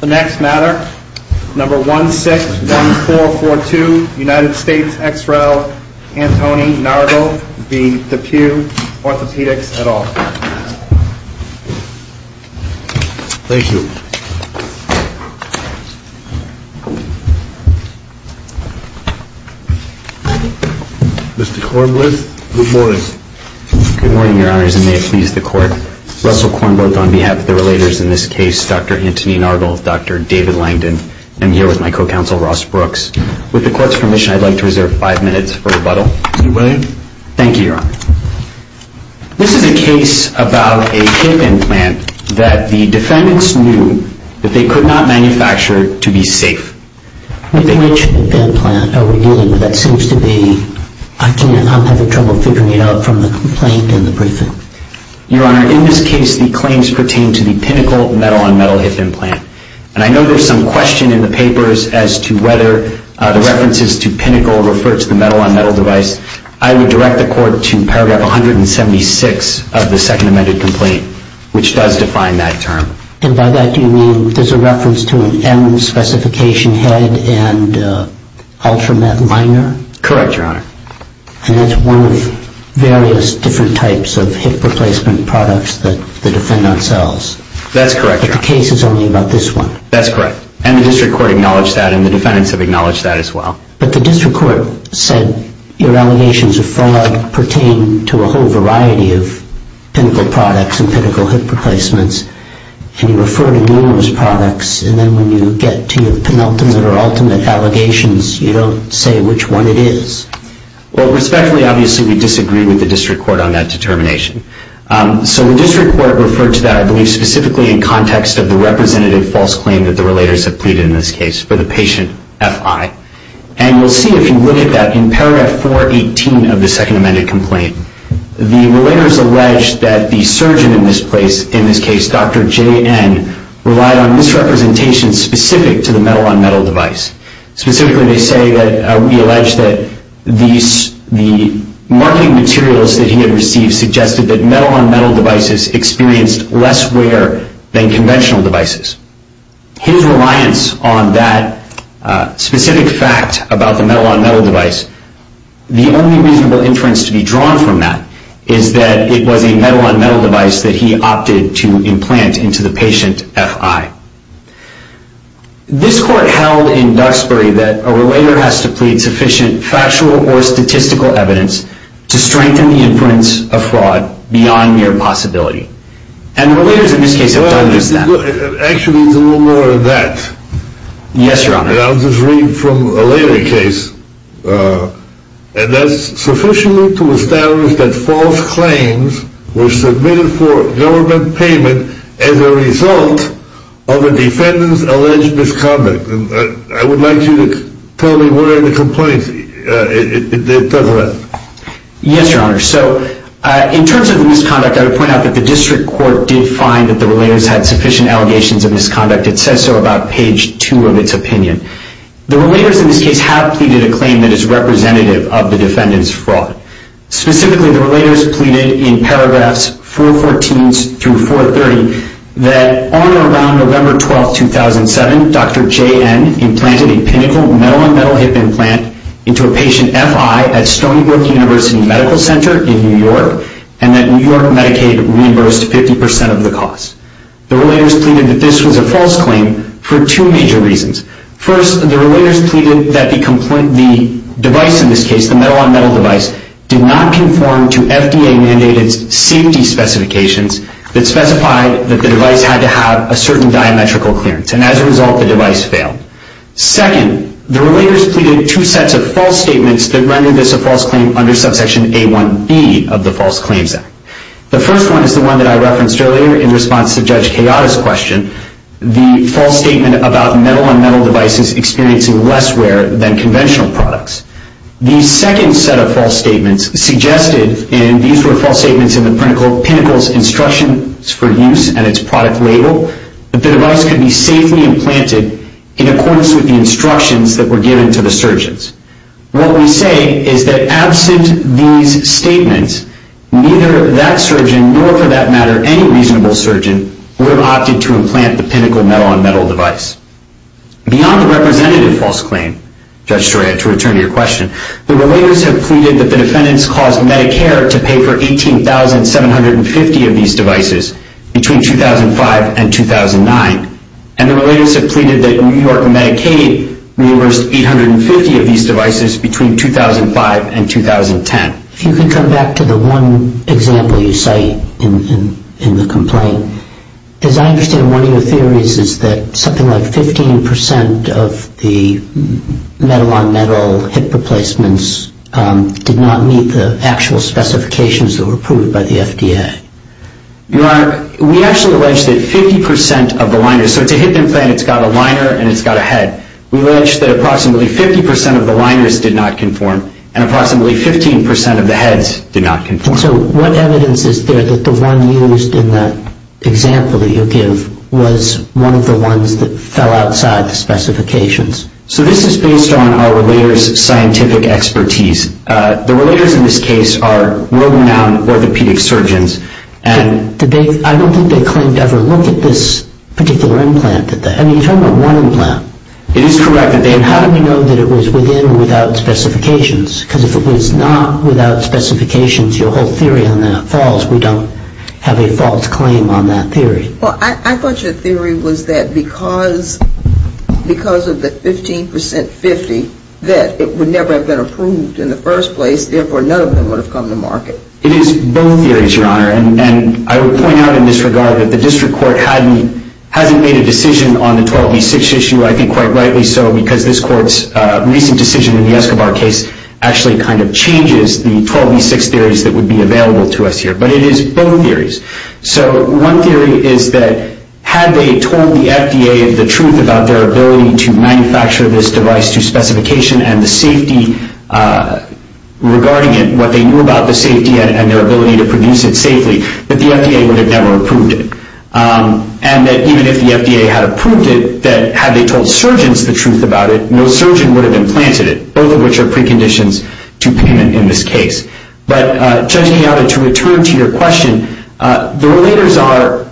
The next matter, number 161442, United States X-Rail, Antony Nargol v. DePuy Orthopaedics, et al. Thank you. Mr. Kornblith, good morning. Good morning, Your Honors, and may it please the Court. Russell Kornblith on behalf of the relators in this case, Dr. Antony Nargol, Dr. David Langdon. I'm here with my co-counsel, Ross Brooks. With the Court's permission, I'd like to reserve five minutes for rebuttal. Mr. William. Thank you, Your Honor. This is a case about a hip implant that the defendants knew that they could not manufacture to be safe. Which implant are we dealing with? That seems to be – I'm having trouble figuring it out from the complaint in the briefing. Your Honor, in this case, the claims pertain to the Pinnacle metal-on-metal hip implant. And I know there's some question in the papers as to whether the references to Pinnacle refer to the metal-on-metal device. I would direct the Court to paragraph 176 of the second amended complaint, which does define that term. And by that, do you mean there's a reference to an M specification head and Ultramet minor? Correct, Your Honor. And that's one of various different types of hip replacement products that the defendant sells. That's correct, Your Honor. But the case is only about this one. That's correct. And the District Court acknowledged that, and the defendants have acknowledged that as well. But the District Court said your allegations of fraud pertain to a whole variety of Pinnacle products and Pinnacle hip replacements. And you refer to numerous products. And then when you get to your penultimate or ultimate allegations, you don't say which one it is. Well, respectfully, obviously, we disagree with the District Court on that determination. So the District Court referred to that, I believe, specifically in context of the representative false claim that the relators have pleaded in this case for the patient, FI. And you'll see if you look at that, in paragraph 418 of the second amended complaint, the relators allege that the surgeon in this case, Dr. JN, relied on misrepresentations specific to the metal-on-metal device. Specifically, they say that we allege that the marketing materials that he had received suggested that were less rare than conventional devices. His reliance on that specific fact about the metal-on-metal device, the only reasonable inference to be drawn from that is that it was a metal-on-metal device that he opted to implant into the patient, FI. This court held in Duxbury that a relator has to plead sufficient factual or statistical evidence to strengthen the inference of fraud beyond mere possibility. And the relators in this case have done just that. Actually, there's a little more to that. Yes, Your Honor. And I'll just read from a later case. And that's sufficiently to establish that false claims were submitted for government payment as a result of a defendant's alleged misconduct. And I would like you to tell me where in the complaint it does that. Yes, Your Honor. So in terms of the misconduct, I would point out that the district court did find that the relators had sufficient allegations of misconduct. It says so about page 2 of its opinion. The relators in this case have pleaded a claim that is representative of the defendant's fraud. Specifically, the relators pleaded in paragraphs 414 through 430 that on or around November 12, 2007, Dr. JN implanted a pinnacle metal-on-metal hip implant into a patient FI at Stony Brook University Medical Center in New York and that New York Medicaid reimbursed 50% of the cost. The relators pleaded that this was a false claim for two major reasons. First, the relators pleaded that the device in this case, the metal-on-metal device, did not conform to FDA-mandated safety specifications that specified that the device had to have a certain diametrical clearance. And as a result, the device failed. Second, the relators pleaded two sets of false statements that rendered this a false claim under subsection A1B of the False Claims Act. The first one is the one that I referenced earlier in response to Judge Keada's question, the false statement about metal-on-metal devices experiencing less wear than conventional products. The second set of false statements suggested, and these were false statements in the pinnacle's instructions for use and its product label, that the device could be safely implanted in accordance with the instructions that were given to the surgeons. What we say is that absent these statements, neither that surgeon, nor for that matter any reasonable surgeon, would have opted to implant the pinnacle metal-on-metal device. Beyond the representative false claim, Judge Storia, to return to your question, the relators have pleaded that the defendants caused Medicare to pay for 18,750 of these devices between 2005 and 2009. And the relators have pleaded that New York Medicaid reversed 850 of these devices between 2005 and 2010. If you can come back to the one example you cite in the complaint, as I understand one of your theories is that something like 15% of the metal-on-metal hip replacements did not meet the actual specifications that were approved by the FDA. Your Honor, we actually allege that 50% of the liners, so it's a hip implant, it's got a liner and it's got a head. We allege that approximately 50% of the liners did not conform and approximately 15% of the heads did not conform. And so what evidence is there that the one used in that example that you give was one of the ones that fell outside the specifications? So this is based on our relators' scientific expertise. The relators in this case are world-renowned orthopedic surgeons. But I don't think they claimed to ever look at this particular implant. I mean, you're talking about one implant. It is correct. And how do we know that it was within or without specifications? Because if it was not without specifications, your whole theory on that falls. We don't have a false claim on that theory. Well, I thought your theory was that because of the 15% 50 that it would never have been approved in the first place, therefore none of them would have come to market. It is both theories, Your Honor. And I would point out in this regard that the district court hasn't made a decision on the 12B6 issue, I think quite rightly so, because this court's recent decision in the Escobar case actually kind of changes the 12B6 theories that would be available to us here. But it is both theories. So one theory is that had they told the FDA the truth about their ability to manufacture this device to specification and the safety regarding it, what they knew about the safety and their ability to produce it safely, that the FDA would have never approved it. And that even if the FDA had approved it, that had they told surgeons the truth about it, no surgeon would have implanted it, both of which are preconditions to payment in this case. But, Judge Keada, to return to your question, the relators are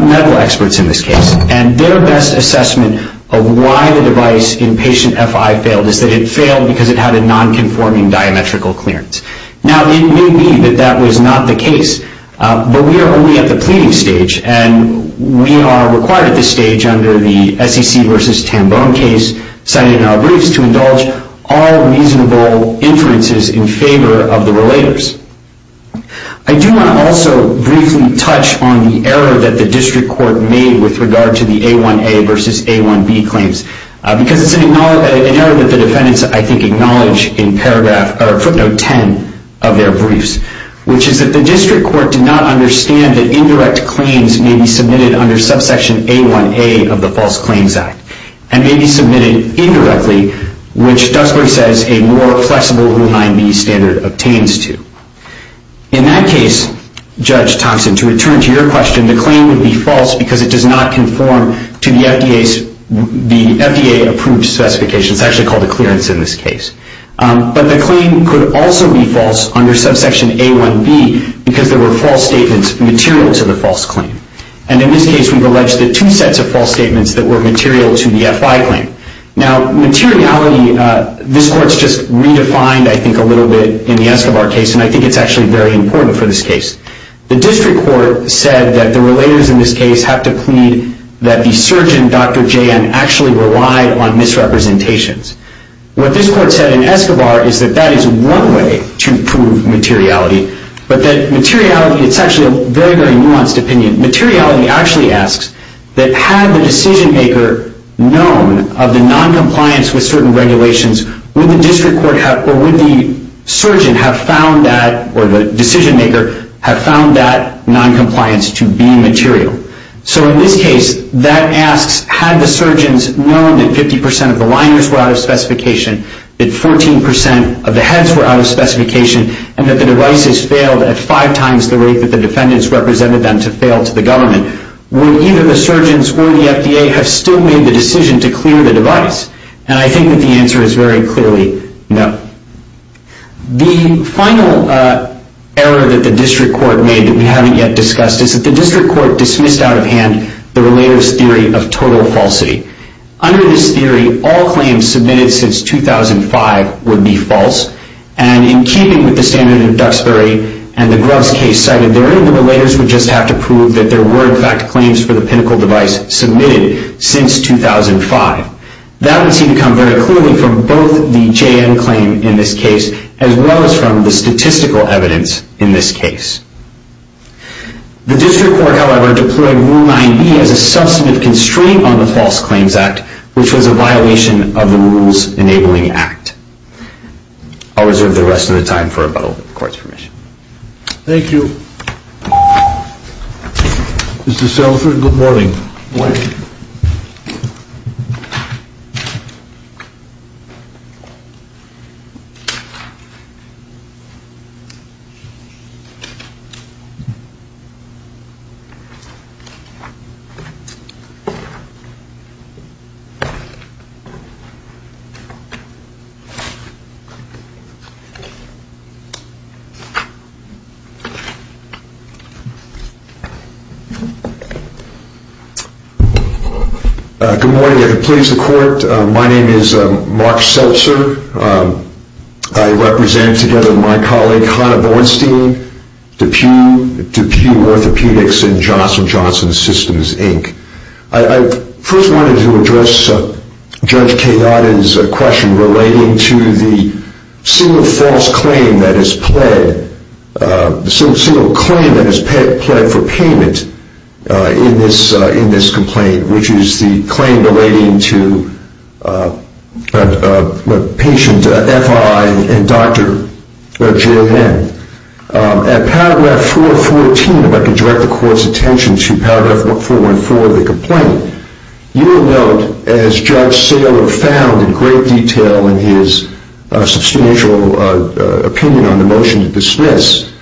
medical experts in this case, and their best assessment of why the device in patient FI failed is that it failed because it had a nonconforming diametrical clearance. Now, it may be that that was not the case, but we are only at the pleading stage, and we are required at this stage under the SEC v. Tambone case, cited in our briefs, to indulge all reasonable inferences in favor of the relators. I do want to also briefly touch on the error that the district court made with regard to the A1A v. A1B claims, because it's an error that the defendants, I think, acknowledge in footnote 10 of their briefs, which is that the district court did not understand that indirect claims may be submitted under subsection A1A of the False Claims Act, and may be submitted indirectly, which Duxbury says a more flexible Rule 9b standard obtains to. In that case, Judge Thompson, to return to your question, the claim would be false because it does not conform to the FDA-approved specifications. It's actually called a clearance in this case. But the claim could also be false under subsection A1B, because there were false statements material to the false claim. And in this case, we've alleged that two sets of false statements that were material to the FI claim. Now, materiality, this court's just redefined, I think, a little bit in the Escobar case, and I think it's actually very important for this case. The district court said that the relators in this case have to plead that the surgeon, Dr. J.N., actually relied on misrepresentations. What this court said in Escobar is that that is one way to prove materiality, but that materiality, it's actually a very, very nuanced opinion. Materiality actually asks that had the decision maker known of the noncompliance with certain regulations, would the district court have, or would the surgeon have found that, or the decision maker have found that noncompliance to be material? So in this case, that asks had the surgeons known that 50% of the liners were out of specification, that 14% of the heads were out of specification, and that the devices failed at five times the rate that the defendants represented them to fail to the government, would either the surgeons or the FDA have still made the decision to clear the device? And I think that the answer is very clearly no. The final error that the district court made that we haven't yet discussed is that the district court dismissed out of hand the relator's theory of total falsity. Under this theory, all claims submitted since 2005 would be false, and in keeping with the standard of Duxbury and the Grubbs case cited therein, the relators would just have to prove that there were in fact claims for the pinnacle device submitted since 2005. That would seem to come very clearly from both the JM claim in this case, as well as from the statistical evidence in this case. The district court, however, deployed Rule 9b as a substantive constraint on the False Claims Act, which was a violation of the Rules Enabling Act. I'll reserve the rest of the time for rebuttal with the court's permission. Thank you. Mr. Sellers, good morning. Good morning. Good morning. If it pleases the court, my name is Mark Seltzer. I represent, together with my colleague, Hanna Bornstein, DePue Orthopedics and Johnson & Johnson Systems, Inc. I first wanted to address Judge Kayada's question relating to the single false claim that is pled, the single claim that is pled for payment in this complaint, which is the claim relating to patient FI and Dr. Joann. At paragraph 414, if I could direct the court's attention to paragraph 414 of the complaint, you will note, as Judge Saylor found in great detail in his substantial opinion on the motion to dismiss,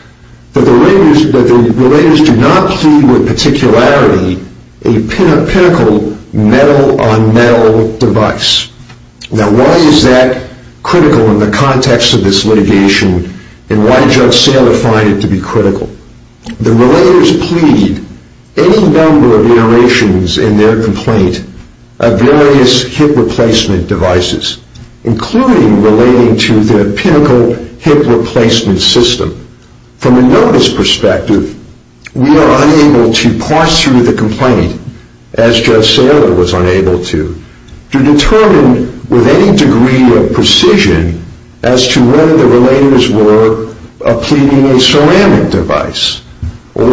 that the relators do not plead with particularity a pinnacle metal-on-metal device. Now, why is that critical in the context of this litigation, and why did Judge Saylor find it to be critical? The relators plead any number of iterations in their complaint of various hip replacement devices, including relating to the pinnacle hip replacement system. From a notice perspective, we are unable to parse through the complaint, as Judge Saylor was unable to, to determine with any degree of precision as to whether the relators were pleading a ceramic device, or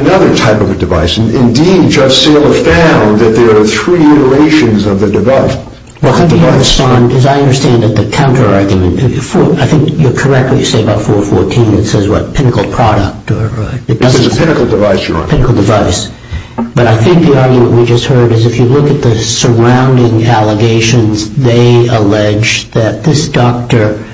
another type of a device. Indeed, Judge Saylor found that there are three iterations of the device. Well, as I understand it, the counter-argument, I think you're correct when you say about 414, it says, what, pinnacle product. This is a pinnacle device, Your Honor. But I think the argument we just heard is if you look at the surrounding allegations, they allege that this doctor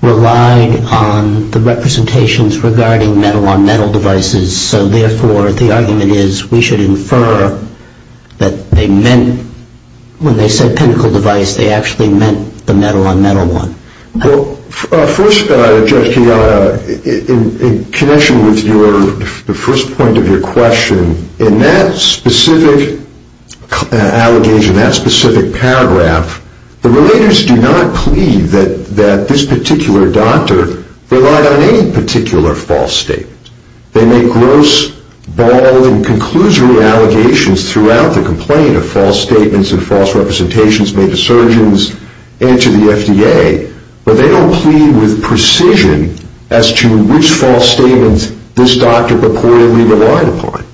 relied on the representations regarding metal-on-metal devices. So, therefore, the argument is we should infer that they meant, when they said pinnacle device, they actually meant the metal-on-metal one. Well, first, Judge Keogh, in connection with the first point of your question, in that specific allegation, that specific paragraph, the relators do not plead that this particular doctor relied on any particular false statement. They make gross, bald, and conclusory allegations throughout the complaint of false statements and false representations made to surgeons and to the FDA, but they don't plead with precision as to which false statements this doctor reportedly relied upon.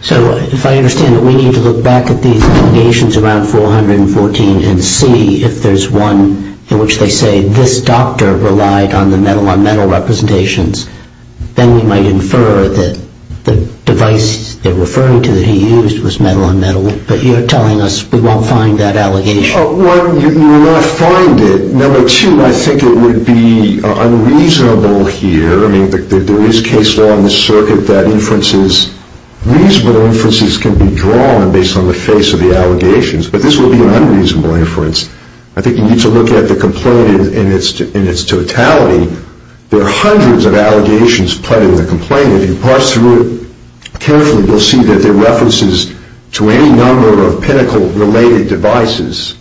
So, if I understand it, we need to look back at these allegations around 414 and see if there's one in which they say this doctor relied on the metal-on-metal representations. Then we might infer that the device they're referring to that he used was metal-on-metal, but you're telling us we won't find that allegation. One, you will not find it. Number two, I think it would be unreasonable here. I mean, there is case law in the circuit that inferences, reasonable inferences can be drawn based on the face of the allegations, but this would be an unreasonable inference. I think you need to look at the complaint in its totality. There are hundreds of allegations put in the complaint. If you parse through it carefully, you'll see that there are references to any number of pinnacle-related devices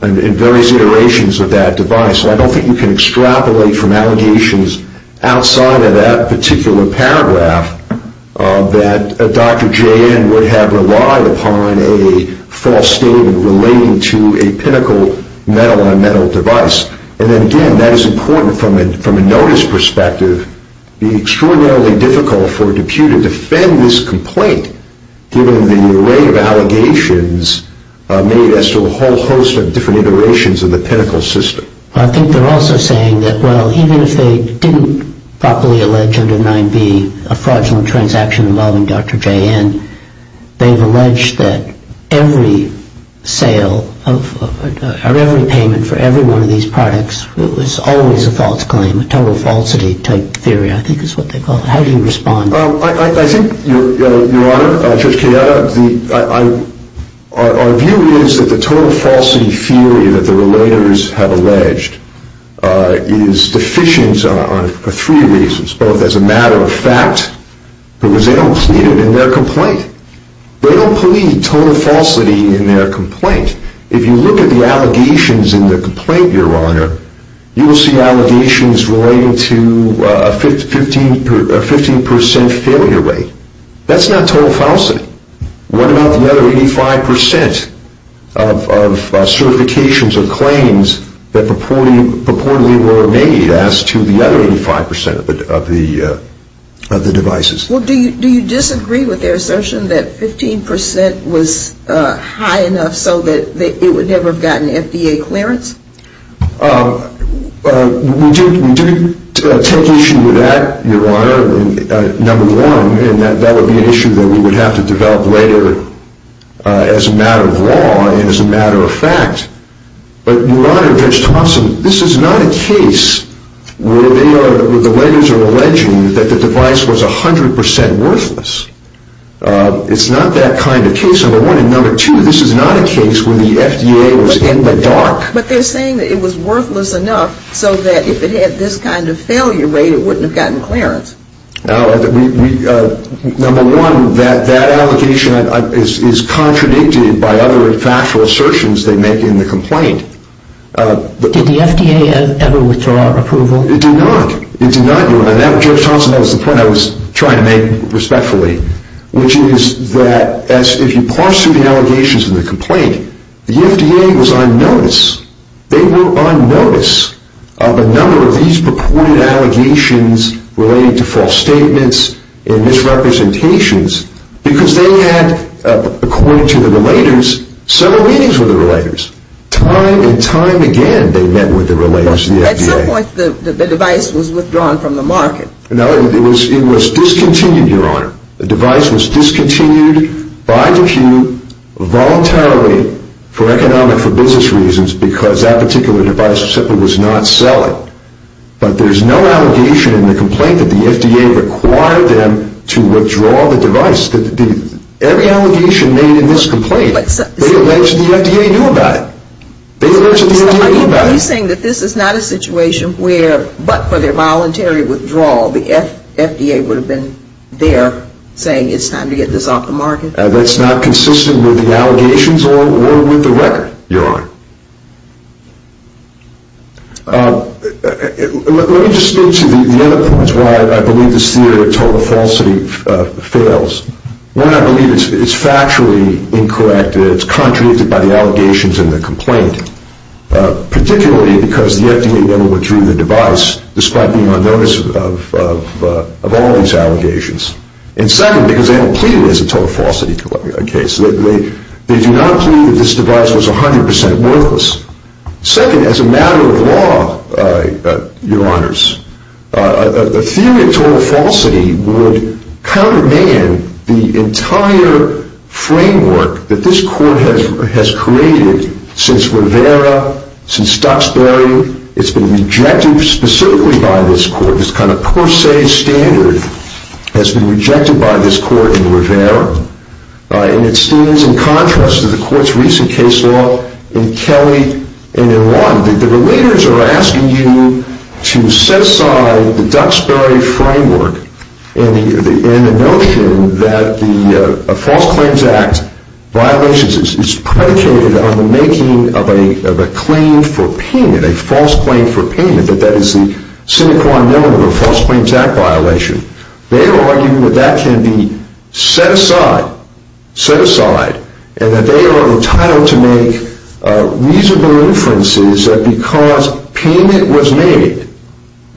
and various iterations of that device, and I don't think you can extrapolate from allegations outside of that particular paragraph that Dr. J.N. would have relied upon a false statement relating to a pinnacle metal-on-metal device. And then, again, that is important from a notice perspective. It would be extraordinarily difficult for DePuy to defend this complaint given the array of allegations made as to a whole host of different iterations of the pinnacle system. I think they're also saying that, well, even if they didn't properly allege under 9b a fraudulent transaction involving Dr. J.N., they've alleged that every sale or every payment for every one of these products was always a false claim, a total falsity type theory, I think is what they call it. How do you respond? I think, Your Honor, Judge Cayetano, our view is that the total falsity theory that the relators have alleged is deficient on three reasons, both as a matter of fact, because they don't see it in their complaint. They don't believe total falsity in their complaint. If you look at the allegations in the complaint, Your Honor, you will see allegations relating to a 15% failure rate. That's not total falsity. What about the other 85% of certifications or claims that purportedly were made as to the other 85% of the devices? Well, do you disagree with their assertion that 15% was high enough so that it would never have gotten FDA clearance? We do take issue with that, Your Honor, number one, and that would be an issue that we would have to develop later as a matter of law and as a matter of fact. But, Your Honor, Judge Thompson, this is not a case where the relators are alleging that the device was 100% worthless. It's not that kind of case, number one, and number two, this is not a case where the FDA was in the dark. But they're saying that it was worthless enough so that if it had this kind of failure rate, it wouldn't have gotten clearance. Number one, that allegation is contradicted by other factual assertions they make in the complaint. Did the FDA ever withdraw approval? It did not. It did not, Your Honor, and that, Judge Thompson, that was the point I was trying to make respectfully, which is that if you parse through the allegations in the complaint, the FDA was on notice. They were on notice of a number of these purported allegations relating to false statements and misrepresentations because they had, according to the relators, several meetings with the relators, time and time again they met with the relators of the FDA. At some point the device was withdrawn from the market. No, it was discontinued, Your Honor. The device was discontinued by Deque voluntarily for economic, for business reasons, because that particular device simply was not selling. But there's no allegation in the complaint that the FDA required them to withdraw the device. Every allegation made in this complaint, they alleged the FDA knew about it. They alleged the FDA knew about it. Are you saying that this is not a situation where, but for their voluntary withdrawal, the FDA would have been there saying it's time to get this off the market? That's not consistent with the allegations or with the record, Your Honor. Let me just speak to the other points why I believe this theory of total falsity fails. One, I believe it's factually incorrect. It's contradicted by the allegations in the complaint, particularly because the FDA never withdrew the device, despite being on notice of all these allegations. And second, because they haven't pleaded as a total falsity case. They do not plead that this device was 100% worthless. Second, as a matter of law, Your Honors, a theory of total falsity would counterman the entire framework that this court has created since Rivera, since Stoxbury. It's been rejected specifically by this court. This kind of per se standard has been rejected by this court in Rivera. And it stands in contrast to the court's recent case law in Kelly and in Lawton. The relators are asking you to set aside the Duxbury framework and the notion that the False Claims Act violation is predicated on the making of a claim for payment, a false claim for payment, that that is the sine qua non of a False Claims Act violation. They are arguing that that can be set aside, set aside, and that they are entitled to make reasonable inferences that because payment was made,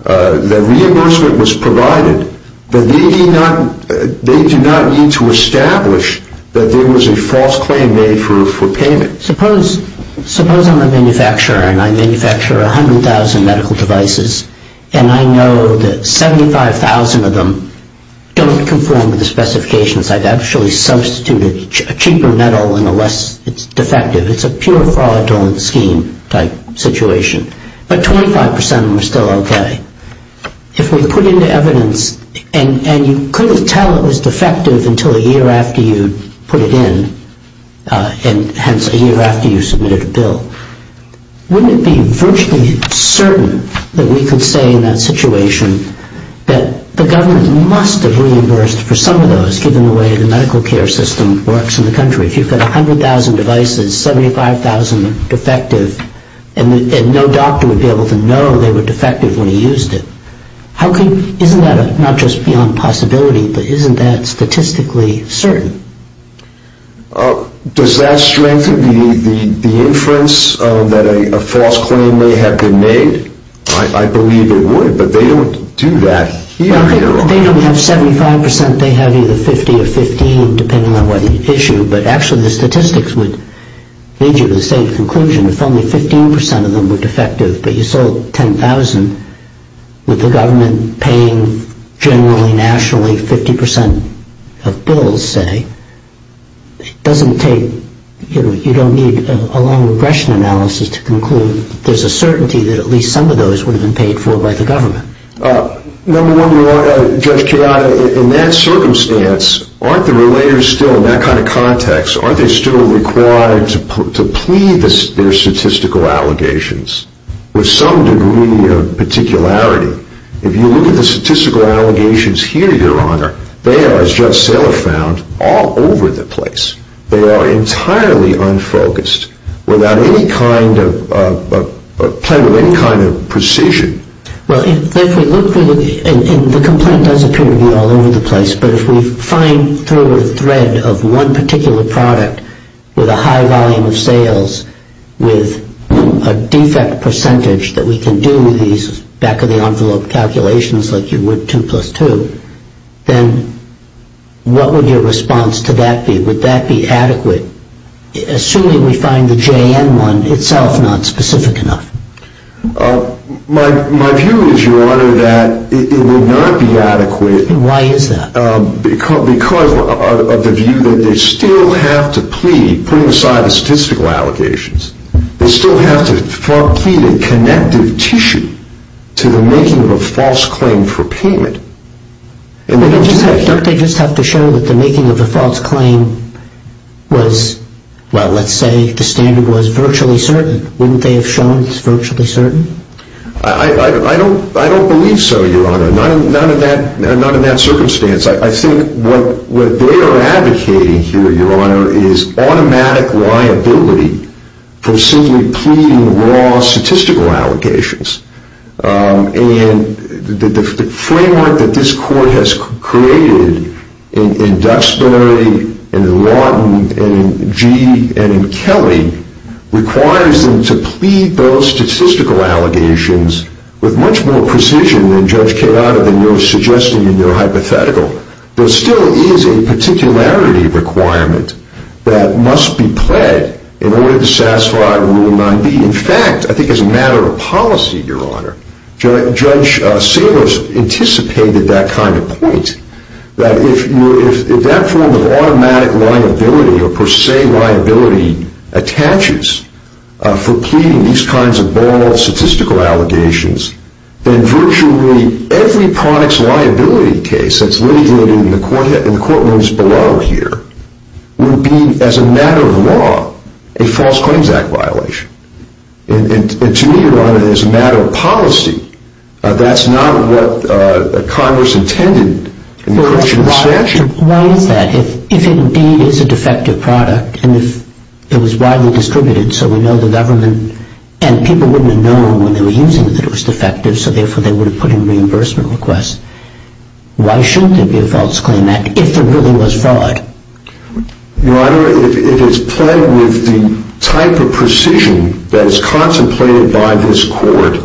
that reimbursement was provided, that they do not need to establish that there was a false claim made for payment. Suppose I'm a manufacturer and I manufacture 100,000 medical devices, and I know that 75,000 of them don't conform to the specifications. I've actually substituted a cheaper metal in a less defective. It's a pure fraudulent scheme type situation. But 25% of them are still okay. If we put into evidence, and you couldn't tell it was defective until a year after you put it in, and hence a year after you submitted a bill, wouldn't it be virtually certain that we could say in that situation that the government must have reimbursed for some of those, given the way the medical care system works in the country? If you've got 100,000 devices, 75,000 defective, and no doctor would be able to know they were defective when he used it, isn't that not just beyond possibility, but isn't that statistically certain? Does that strengthen the inference that a false claim may have been made? I believe it would, but they don't do that here. They don't have 75%. They have either 50 or 15, depending on what issue. But actually, the statistics would lead you to the same conclusion. If only 15% of them were defective, but you sold 10,000, with the government paying, generally, nationally, 50% of bills, say, it doesn't take, you know, you don't need a long regression analysis to conclude that there's a certainty that at least some of those would have been paid for by the government. Number one, Judge Karada, in that circumstance, aren't the relators still, in that kind of context, aren't they still required to plead their statistical allegations with some degree of particularity? If you look at the statistical allegations here, Your Honor, they are, as Judge Seller found, all over the place. They are entirely unfocused, without any kind of precision. Well, if we look, and the complaint does appear to be all over the place, but if we find through a thread of one particular product with a high volume of sales, with a defect percentage that we can do these back-of-the-envelope calculations like you would 2 plus 2, then what would your response to that be? Would that be adequate, assuming we find the JN one itself not specific enough? My view is, Your Honor, that it would not be adequate. Why is that? Because of the view that they still have to plead, putting aside the statistical allegations, they still have to plead a connective tissue to the making of a false claim for payment. Don't they just have to show that the making of a false claim was, well, let's say the standard was virtually certain. Wouldn't they have shown it was virtually certain? I don't believe so, Your Honor. Not in that circumstance. I think what they are advocating here, Your Honor, is automatic liability for simply pleading raw statistical allegations. And the framework that this Court has created in Duxbury and in Lawton and in Gee and in Kelly requires them to plead those statistical allegations with much more precision than Judge Cayada, than you are suggesting in your hypothetical. There still is a particularity requirement that must be pled in order to satisfy Rule 9b. In fact, I think as a matter of policy, Your Honor, Judge Salos anticipated that kind of point, that if that form of automatic liability or per se liability attaches for pleading these kinds of borrowed statistical allegations, then virtually every products liability case that is litigated in the courtrooms below here would be, as a matter of law, a False Claims Act violation. And to me, Your Honor, as a matter of policy, that's not what Congress intended in the question of the statute. Why is that? If it indeed is a defective product and if it was widely distributed so we know the government and people wouldn't have known when they were using it that it was defective, so therefore they would have put in reimbursement requests, why shouldn't there be a False Claims Act if there really was fraud? Your Honor, if it is pled with the type of precision that is contemplated by this court,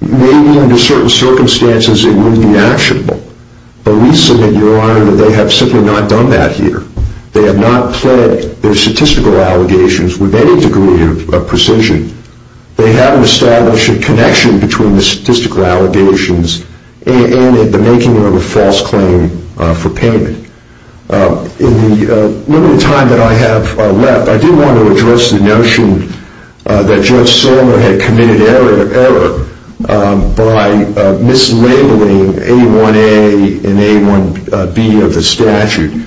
maybe under certain circumstances it wouldn't be actionable. But we submit, Your Honor, that they have simply not done that here. They have not pled their statistical allegations with any degree of precision. They haven't established a connection between the statistical allegations and the making of a false claim for payment. In the limited time that I have left, I do want to address the notion that Judge Sorma had committed error by mislabeling A1A and A1B of the statute.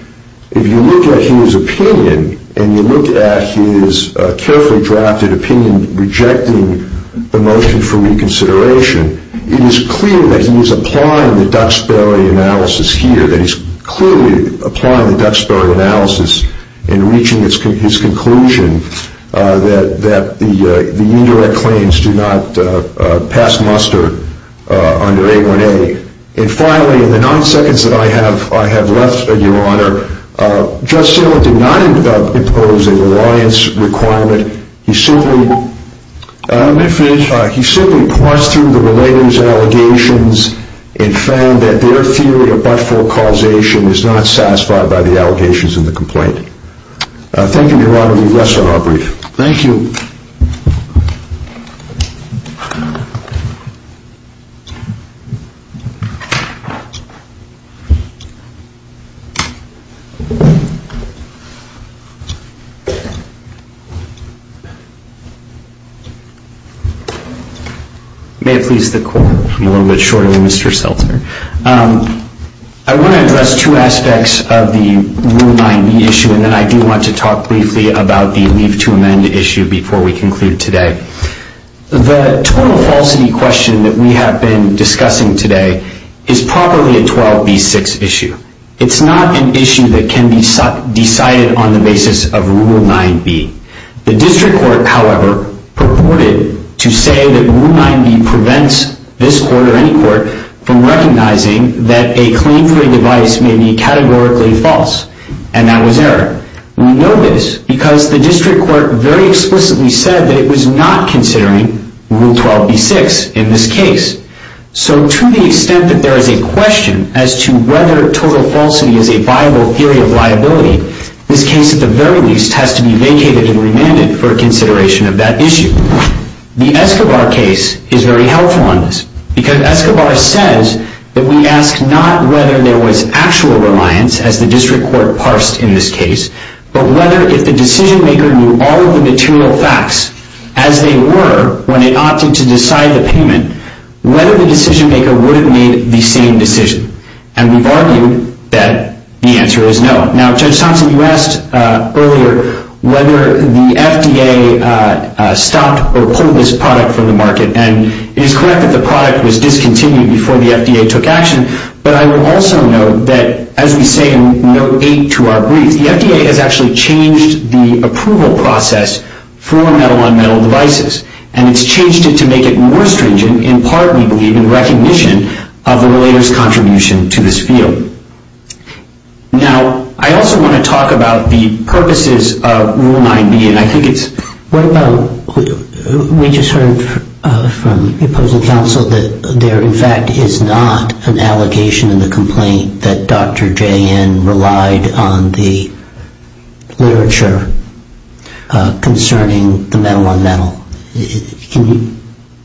If you look at his opinion and you look at his carefully drafted opinion rejecting the motion for reconsideration, it is clear that he is applying the Duxbury analysis here. It is clear that he is applying the Duxbury analysis in reaching his conclusion that the indirect claims do not pass muster under A1A. And finally, in the nine seconds that I have left, Your Honor, Judge Sorma did not impose an alliance requirement. and found that their theory of but-for causation is not satisfied by the allegations in the complaint. Thank you, Your Honor. We rest our brief. Thank you. May it please the Court. A little bit shorter than Mr. Seltzer. I want to address two aspects of the Rule 9b issue and then I do want to talk briefly about the leave to amend issue before we conclude today. The total falsity question that we have been discussing today is probably a 12b6 issue. It's not an issue that can be decided on the basis of Rule 9b. The District Court, however, purported to say that Rule 9b prevents this Court or any Court from recognizing that a claim for a device may be categorically false, and that was error. We know this because the District Court very explicitly said that it was not considering Rule 12b6 in this case. So to the extent that there is a question as to whether total falsity is a viable theory of liability, this case at the very least has to be vacated and remanded for consideration of that issue. The Escobar case is very helpful on this because Escobar says that we ask not whether there was actual reliance, as the District Court parsed in this case, but whether if the decision-maker knew all of the material facts as they were when they opted to decide the payment, whether the decision-maker would have made the same decision. And we've argued that the answer is no. Now, Judge Thompson, you asked earlier whether the FDA stopped or pulled this product from the market, and it is correct that the product was discontinued before the FDA took action, but I will also note that, as we say in Note 8 to our brief, the FDA has actually changed the approval process for metal-on-metal devices, and it's changed it to make it more stringent in part, we believe, in recognition of the lawyer's contribution to this field. Now, I also want to talk about the purposes of Rule 9b, and I think it's... What about, we just heard from opposing counsel that there, in fact, is not an allocation in the complaint that Dr. J.N. relied on the literature concerning the metal-on-metal. Can you...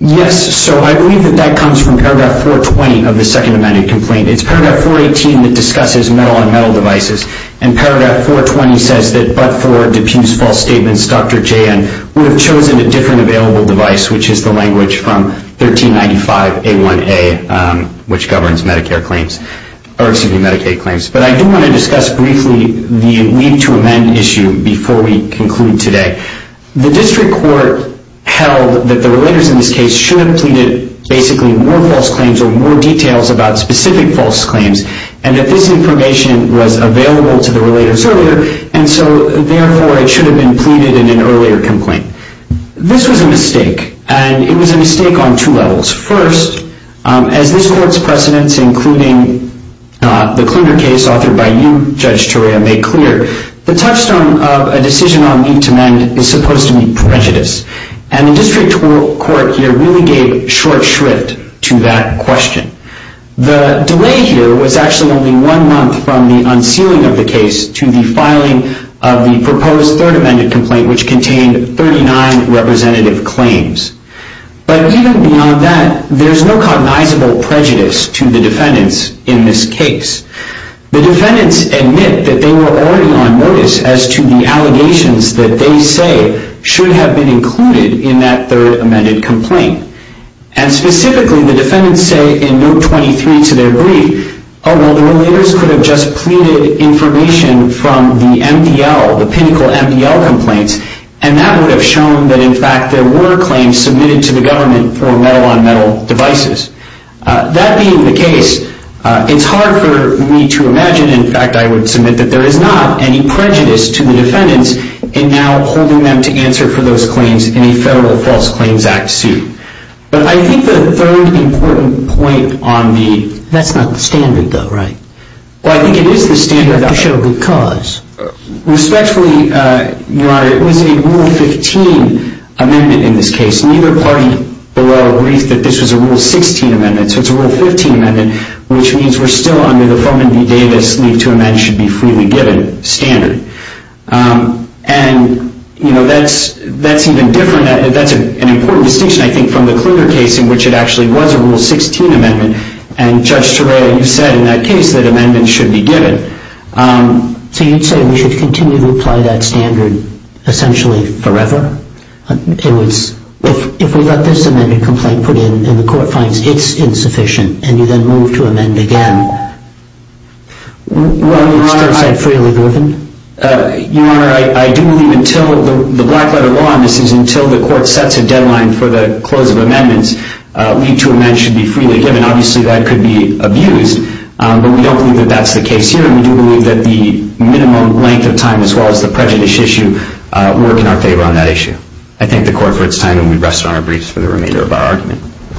Yes, so I believe that that comes from Paragraph 420 of the second amended complaint. It's Paragraph 418 that discusses metal-on-metal devices, and Paragraph 420 says that but for Duput's false statements, Dr. J.N. would have chosen a different available device, which is the language from 1395a1a, which governs Medicaid claims. But I do want to discuss briefly the leave to amend issue before we conclude today. The district court held that the relators in this case should have pleaded basically more false claims or more details about specific false claims, and that this information was available to the relators earlier, and so, therefore, it should have been pleaded in an earlier complaint. This was a mistake, and it was a mistake on two levels. First, as this court's precedents, including the Clinger case authored by you, Judge Turaya, made clear, the touchstone of a decision on leave to amend is supposed to be prejudice, and the district court here really gave short shrift to that question. The delay here was actually only one month from the unsealing of the case to the filing of the proposed third amended complaint, which contained 39 representative claims. But even beyond that, there's no cognizable prejudice to the defendants in this case. The defendants admit that they were already on notice as to the allegations that they say should have been included in that third amended complaint. And specifically, the defendants say in note 23 to their brief, oh, well, the relators could have just pleaded information from the MDL, the pinnacle MDL complaints, and that would have shown that, in fact, there were claims submitted to the government for metal-on-metal devices. That being the case, it's hard for me to imagine, in fact, I would submit that there is not any prejudice to the defendants in now holding them to answer for those claims in a Federal False Claims Act suit. But I think the third important point on the... That's not the standard, though, right? Well, I think it is the standard. You have to show good cause. Respectfully, Your Honor, it was a Rule 15 amendment in this case. Neither party below agrees that this was a Rule 16 amendment, so it's a Rule 15 amendment, which means we're still under the Froman v. Davis leave to amend should be freely given standard. And, you know, that's even different. That's an important distinction, I think, from the Kluger case, in which it actually was a Rule 16 amendment, and Judge Tureo, you said in that case that amendments should be given. So you'd say we should continue to apply that standard essentially forever? If we let this amendment complaint put in and the Court finds it's insufficient and you then move to amend again, would it still be said freely given? Your Honor, I do believe until the Blackletter Law, and this is until the Court sets a deadline for the close of amendments, leave to amend should be freely given. Obviously, that could be abused, but we don't believe that that's the case here, and we do believe that the minimum length of time, as well as the prejudice issue, work in our favor on that issue. I thank the Court for its time, and we rest on our briefs for the remainder of our argument. Thank